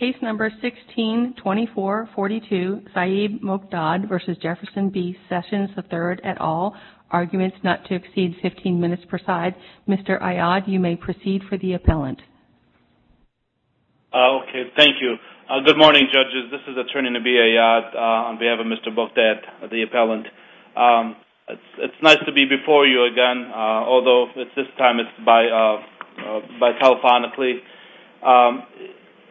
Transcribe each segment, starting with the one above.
162442 Saeb Mokdad v. Jefferson B. Sessions III at all, arguments not to exceed 15 minutes per side. Mr. Ayad, you may proceed for the appellant. Okay, thank you. Good morning, judges. This is Attorney Nabi Ayad on behalf of Mr. Mokdad, the appellant. It's nice to be before you again, although this time it's by telephonically.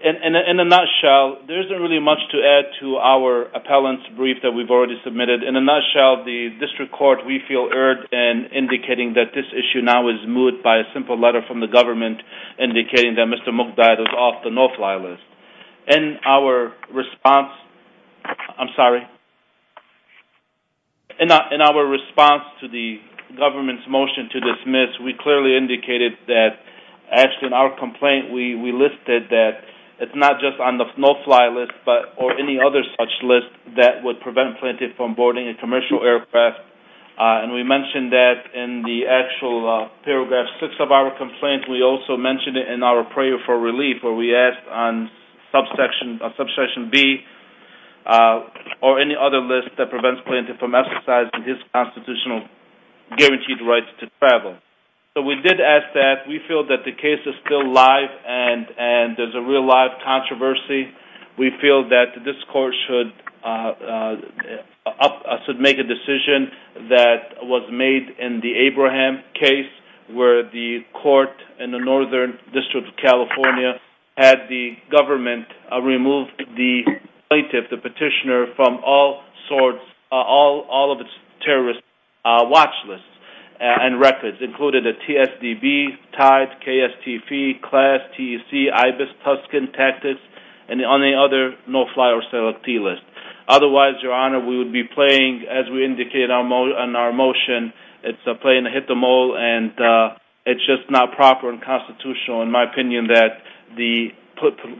In a nutshell, there isn't really much to add to our appellant's brief that we've already submitted. In a nutshell, the district court, we feel erred in indicating that this issue now is moot by a simple letter from the government indicating that Mr. Mokdad is off the no-fly list. In our response to the government's motion to dismiss, we clearly indicated that actually in our complaint we listed that it's not just on the no-fly list or any other such list that would prevent plaintiff from boarding a commercial aircraft. We mentioned that in the actual paragraph six of our complaint. We also mentioned it in our prayer for relief where we asked on subsection B or any other list that prevents plaintiff from exercising his constitutional guaranteed right to travel. We did ask that. We feel that the case is still live and there's a real-life controversy. We feel that this court should make a decision that was made in the Abraham case where the court in the Northern District of California had the government remove the plaintiff, the petitioner, from all of its terrorist watch lists and records. This included the TSDB, TIDE, KSTP, CLAS, TEC, IBIS, Tuscan, Tactics, and any other no-fly or selectee list. Otherwise, Your Honor, we would be playing, as we indicated in our motion, it's a play and a hit the mole and it's just not proper and constitutional in my opinion that the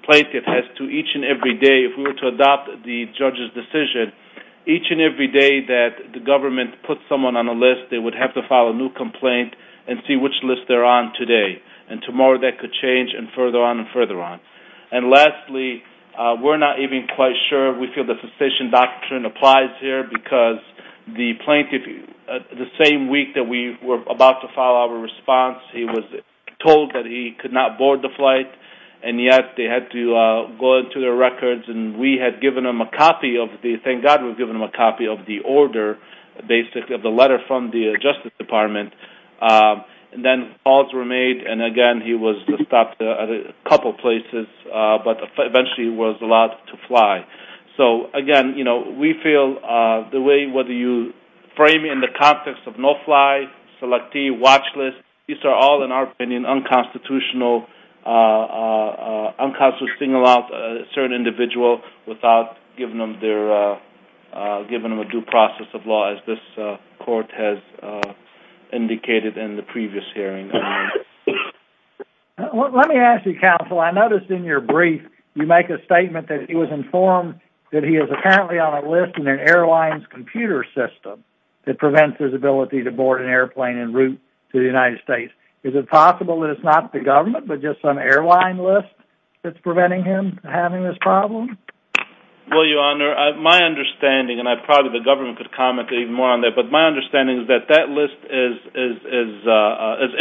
plaintiff has to each and every day, if we were to adopt the judge's decision, each and every day that the government puts someone on a list, they would have to file a new complaint and see which list they're on today. And tomorrow that could change and further on and further on. And lastly, we're not even quite sure if we feel the cessation doctrine applies here because the plaintiff, the same week that we were about to file our response, he was told that he could not board the flight and yet they had to go into their records and we had given him a copy of the, thank God we had given him a copy of the order, basically of the letter from the Justice Department. And then calls were made and again he was stopped at a couple places but eventually he was allowed to fly. So again, you know, we feel the way whether you frame in the context of no-fly, selectee, watch list, these are all in our opinion unconstitutional, unconstitutional of a certain individual without giving them a due process of law as this court has indicated in the previous hearing. Let me ask you counsel, I noticed in your brief you make a statement that he was informed that he is apparently on a list in an airline's computer system that prevents his ability to board an airplane en route to the United States. Is it possible that it's not the government but just some airline list that's preventing him from having this problem? Well your honor, my understanding, and probably the government could comment even more on that, but my understanding is that that list is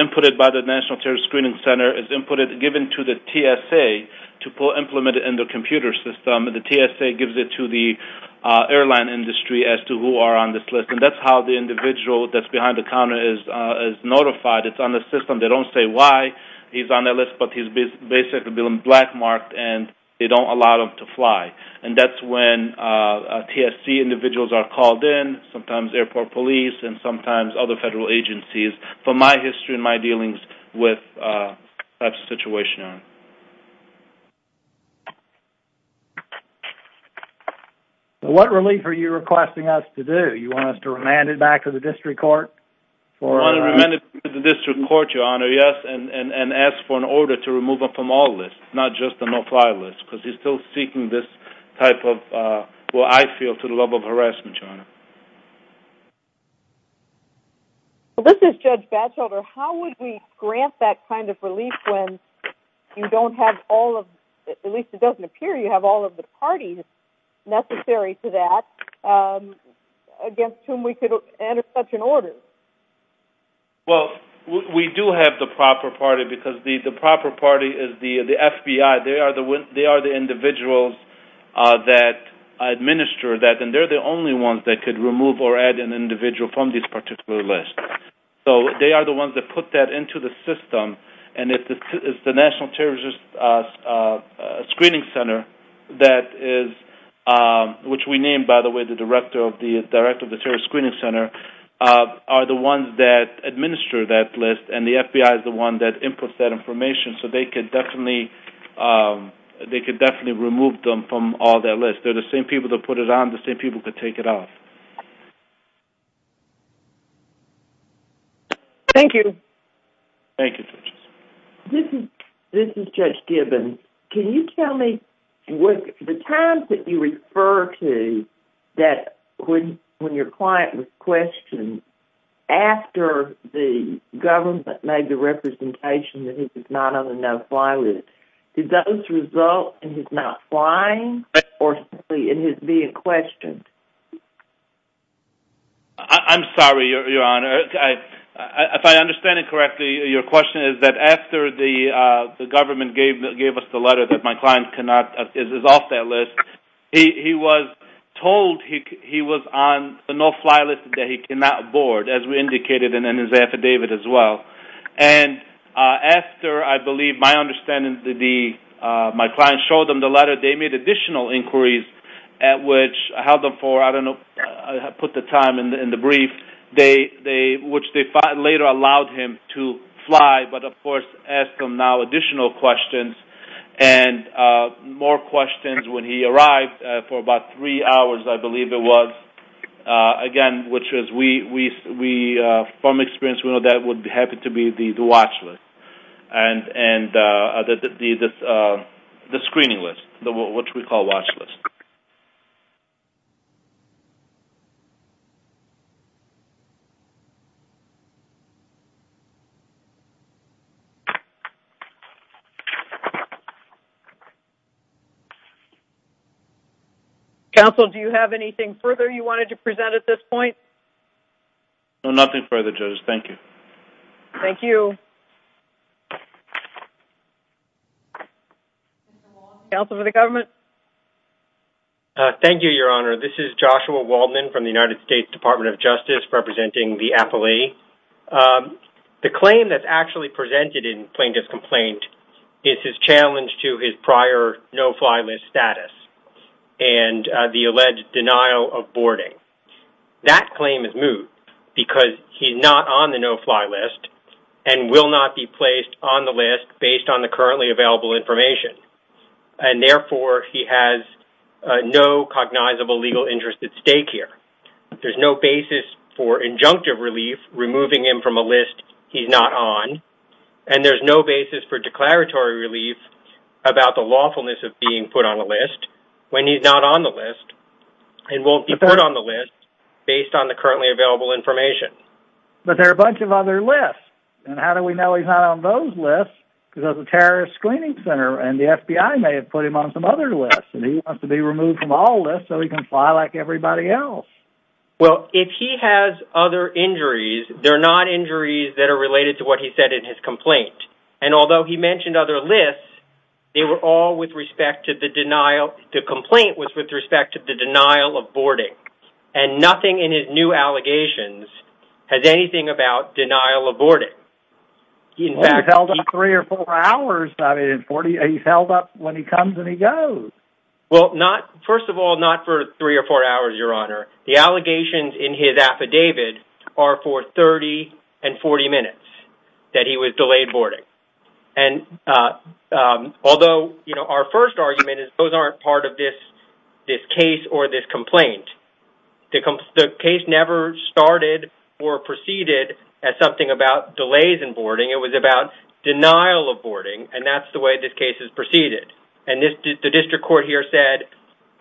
inputted by the National Terrorist Screening Center, is inputted, given to the TSA to implement it in the computer system. The TSA gives it to the airline industry as to who are on this list. And that's how the individual that's behind the counter is notified. It's on the system. They don't say why he's on that list but he's basically been black marked and they don't allow him to fly. And that's when TSC individuals are called in, sometimes airport police and sometimes other federal agencies. From my history and my dealings with that situation. What relief are you requesting us to do? You want us to remand him back to the district court? We want to remand him to the district court, your honor, yes. And ask for an order to remove him from all lists, not just the no-fly list. Because he's still seeking this type of, what I feel, to the level of harassment, your honor. This is Judge Batchelder. How would we grant that kind of relief when you don't have all of, at least it doesn't appear you have all of the parties necessary to that? Against whom we could enter such an order? Well, we do have the proper party because the proper party is the FBI. They are the individuals that administer that. And they're the only ones that could remove or add an individual from this particular list. So they are the ones that put that into the system. And it's the National Terrorist Screening Center that is, which we named, by the way, the Director of the Terrorist Screening Center, are the ones that administer that list. And the FBI is the one that inputs that information. So they could definitely remove them from all that list. They're the same people that put it on, the same people that take it off. Thank you. Thank you, Judge. This is Judge Gibbons. Can you tell me, the times that you refer to that when your client was questioned, after the government made the representation that he was not on a no-fly list, did those result in his not flying or simply in his being questioned? I'm sorry, Your Honor. If I understand it correctly, your question is that after the government gave us the letter that my client is off that list, he was told he was on a no-fly list that he cannot board, as we indicated in his affidavit as well. And after, I believe, my understanding, my client showed them the letter, they made additional inquiries at which I held them for, I don't know, I put the time in the brief. Which they later allowed him to fly, but, of course, asked him now additional questions and more questions when he arrived for about three hours, I believe it was. Again, which is, from experience, we know that would happen to be the watch list and the screening list, which we call watch list. Thank you. Counsel, do you have anything further you wanted to present at this point? No, nothing further, Judge. Thank you. Thank you. Counsel for the government. Thank you, Your Honor. This is Joshua Waldman from the United States Department of Justice, representing the appellee. The claim that's actually presented in Plaintiff's Complaint is his challenge to his prior no-fly list status and the alleged denial of boarding. That claim is moved because he's not on the no-fly list and will not be placed on the list based on the currently available information. And, therefore, he has no cognizable legal interest at stake here. There's no basis for injunctive relief, removing him from a list he's not on, and there's no basis for declaratory relief about the lawfulness of being put on a list when he's not on the list and won't be put on the list based on the currently available information. But there are a bunch of other lists. And how do we know he's not on those lists? Because there's a terrorist screening center and the FBI may have put him on some other list and he wants to be removed from all lists so he can fly like everybody else. Well, if he has other injuries, they're not injuries that are related to what he said in his complaint. And although he mentioned other lists, they were all with respect to the denial – the complaint was with respect to the denial of boarding. And nothing in his new allegations has anything about denial of boarding. Well, he's held up three or four hours. He's held up when he comes and he goes. Well, first of all, not for three or four hours, Your Honor. The allegations in his affidavit are for 30 and 40 minutes that he was delayed boarding. And although our first argument is those aren't part of this case or this complaint. The case never started or proceeded as something about delays in boarding. It was about denial of boarding, and that's the way this case has proceeded. And the district court here said,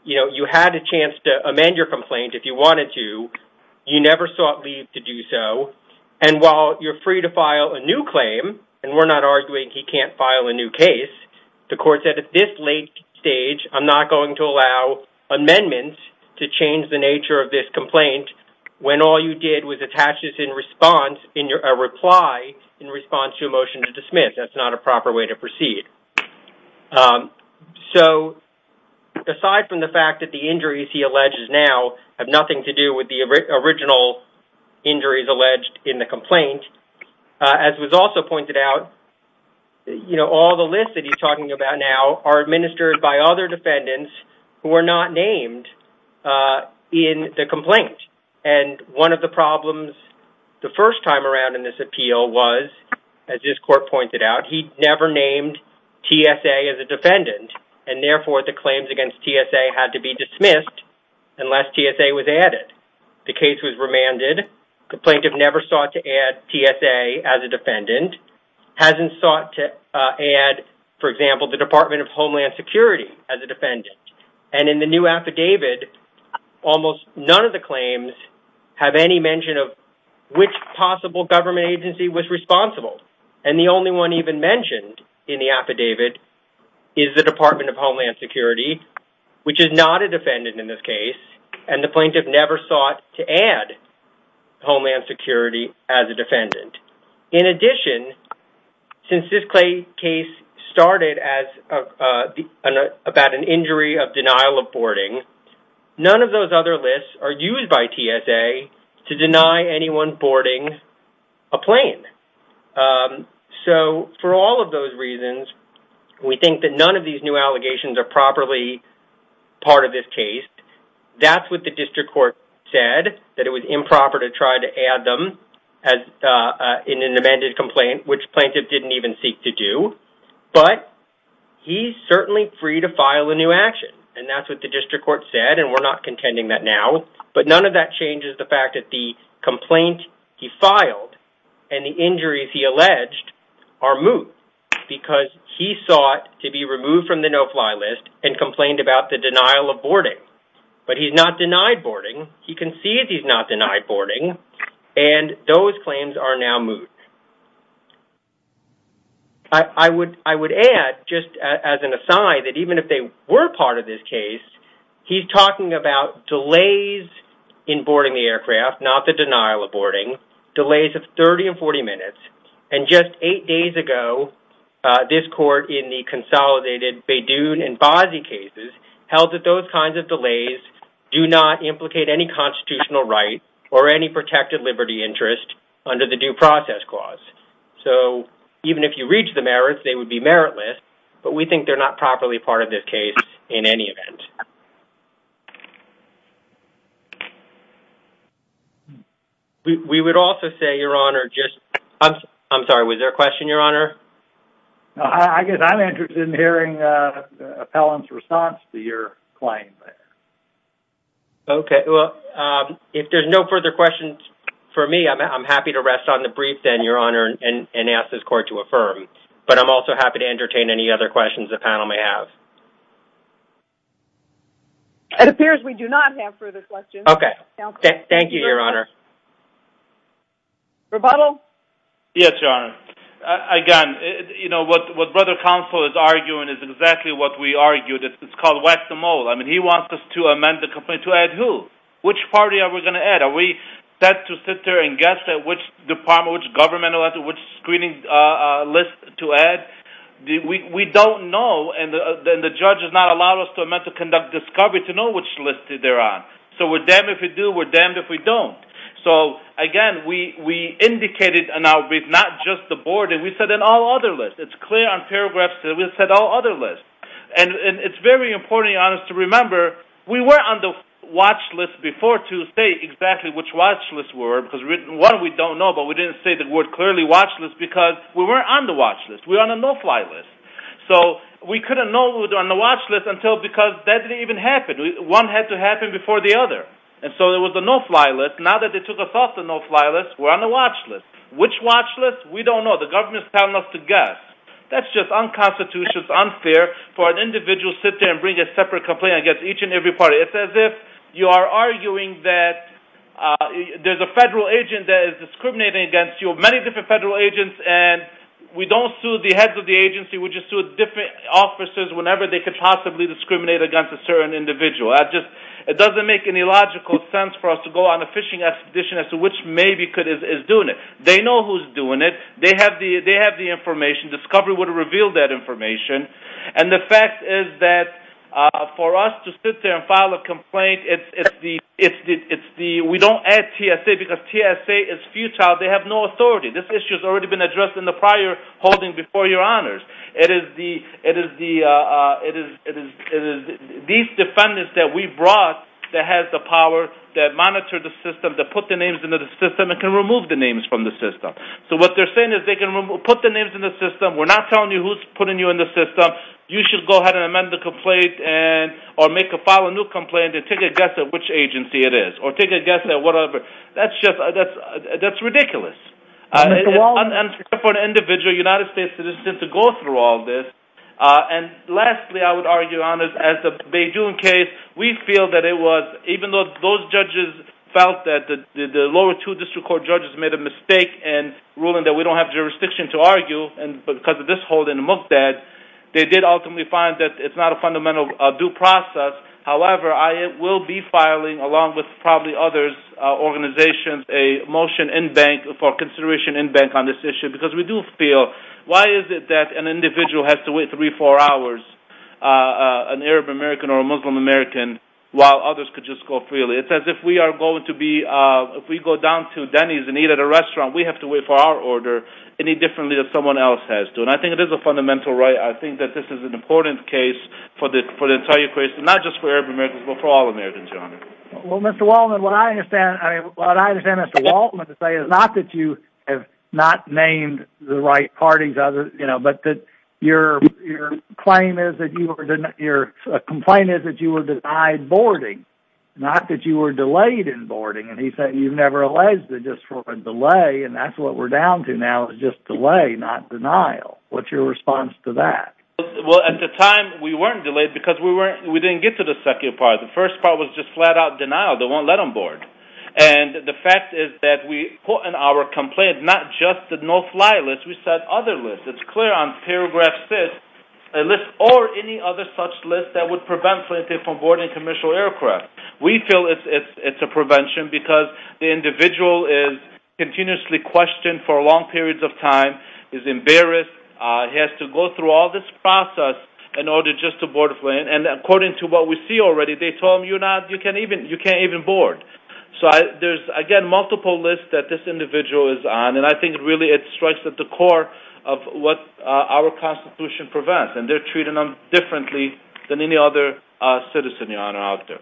you know, you had a chance to amend your complaint if you wanted to. You never sought leave to do so. And while you're free to file a new claim, and we're not arguing he can't file a new case, the court said at this late stage, I'm not going to allow amendments to change the nature of this complaint when all you did was attach a reply in response to a motion to dismiss. That's not a proper way to proceed. So aside from the fact that the injuries he alleges now have nothing to do with the original injuries alleged in the complaint, as was also pointed out, you know, all the lists that he's talking about now are administered by other defendants who are not named in the complaint. And one of the problems the first time around in this appeal was, as this court pointed out, he never named TSA as a defendant, and therefore the claims against TSA had to be dismissed unless TSA was added. The case was remanded. The plaintiff never sought to add TSA as a defendant, hasn't sought to add, for example, the Department of Homeland Security as a defendant. And in the new affidavit, almost none of the claims have any mention of which possible government agency was responsible. And the only one even mentioned in the affidavit is the Department of Homeland Security, which is not a defendant in this case, and the plaintiff never sought to add Homeland Security as a defendant. In addition, since this case started about an injury of denial of boarding, none of those other lists are used by TSA to deny anyone boarding a plane. So for all of those reasons, we think that none of these new allegations are properly part of this case. That's what the district court said, that it was improper to try to add them in an amended complaint, which plaintiff didn't even seek to do. But he's certainly free to file a new action, and that's what the district court said, and we're not contending that now. But none of that changes the fact that the complaint he filed and the injuries he alleged are moot, because he sought to be removed from the no-fly list and complained about the denial of boarding. But he's not denied boarding. He concedes he's not denied boarding, and those claims are now moot. I would add, just as an aside, that even if they were part of this case, he's talking about delays in boarding the aircraft, not the denial of boarding. Delays of 30 and 40 minutes. And just eight days ago, this court in the consolidated Beydoun and Bozzi cases held that those kinds of delays do not implicate any constitutional right or any protected liberty interest under the Due Process Clause. So even if you reach the merits, they would be meritless, but we think they're not properly part of this case in any event. We would also say, Your Honor, just... I'm sorry, was there a question, Your Honor? I guess I'm interested in hearing the appellant's response to your claim. Okay. Well, if there's no further questions for me, I'm happy to rest on the brief then, Your Honor, and ask this court to affirm. But I'm also happy to entertain any other questions the panel may have. It appears we do not have further questions. Okay. Thank you, Your Honor. Rebuttal? Yes, Your Honor. Again, you know, what Brother Counsel is arguing is exactly what we argued. It's called whack-the-mole. I mean, he wants us to amend the complaint to add who? Which party are we going to add? Are we set to sit there and guess which department, which government, or which screening list to add? We don't know, and the judge has not allowed us to amend to conduct discovery to know which list they're on. So we're damned if we do. We're damned if we don't. So, again, we indicated an outbreak, not just the board. And we said in all other lists. It's clear on paragraphs that we said all other lists. And it's very important, Your Honor, to remember, we were on the watch list before to say exactly which watch list we were, because one, we don't know, but we didn't say the word clearly watch list because we weren't on the watch list. We were on a no-fly list. So we couldn't know we were on the watch list until because that didn't even happen. One had to happen before the other. And so there was a no-fly list. Now that they took us off the no-fly list, we're on the watch list. Which watch list? We don't know. The government is telling us to guess. That's just unconstitutional. It's unfair for an individual to sit there and bring a separate complaint against each and every party. It's as if you are arguing that there's a federal agent that is discriminating against you, many different federal agents, and we don't sue the heads of the agency. We just sue different officers whenever they could possibly discriminate against a certain individual. It doesn't make any logical sense for us to go on a fishing expedition as to which maybe is doing it. They know who's doing it. They have the information. Discovery would have revealed that information. And the fact is that for us to sit there and file a complaint, it's the we don't add TSA because TSA is futile. They have no authority. This issue has already been addressed in the prior holding before your honors. It is these defendants that we brought that have the power, that monitor the system, that put the names into the system and can remove the names from the system. So what they're saying is they can put the names in the system. We're not telling you who's putting you in the system. You should go ahead and amend the complaint or make a file a new complaint and take a guess at which agency it is or take a guess at whatever. That's just ridiculous. It's unfair for an individual, a United States citizen, to go through all this. And lastly, I would argue, honors, as the Bay June case, we feel that it was, even though those judges felt that the lower two district court judges made a mistake in ruling that we don't have jurisdiction to argue because of this holding, they did ultimately find that it's not a fundamental due process. However, I will be filing, along with probably other organizations, a motion in bank for consideration in bank on this issue because we do feel, why is it that an individual has to wait three, four hours, an Arab American or a Muslim American, while others could just go freely? It's as if we are going to be, if we go down to Denny's and eat at a restaurant, we have to wait for our order any differently than someone else has to. And I think it is a fundamental right. I think that this is an important case for the entire equation, not just for Arab Americans, but for all Americans, your honor. Well, Mr. Waldman, what I understand, what I understand, Mr. Waldman, to say is not that you have not named the right parties, but that your complaint is that you were denied boarding, not that you were delayed in boarding. And he said you've never alleged that just for a delay, and that's what we're down to now is just delay, not denial. What's your response to that? Well, at the time, we weren't delayed because we didn't get to the second part. The first part was just flat-out denial. They won't let them board. And the fact is that we put in our complaint not just the no-fly list, we set other lists. It's clear on paragraph 6, a list or any other such list that would prevent flight attendants from boarding commercial aircraft. We feel it's a prevention because the individual is continuously questioned for long periods of time, is embarrassed, has to go through all this process in order just to board a plane. And according to what we see already, they told him, you can't even board. So there's, again, multiple lists that this individual is on, and I think really it strikes at the core of what our Constitution prevents, and they're treated differently than any other citizen out there.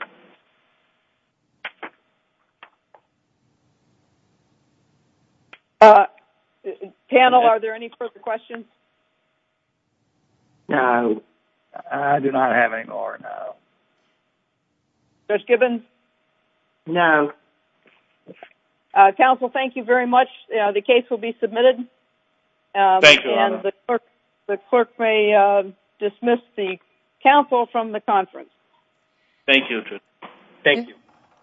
Panel, are there any further questions? No, I do not have any more. Judge Gibbons? No. Counsel, thank you very much. The case will be submitted. Thank you, Your Honor. And the clerk may dismiss the counsel from the conference. Thank you, Judge. Thank you.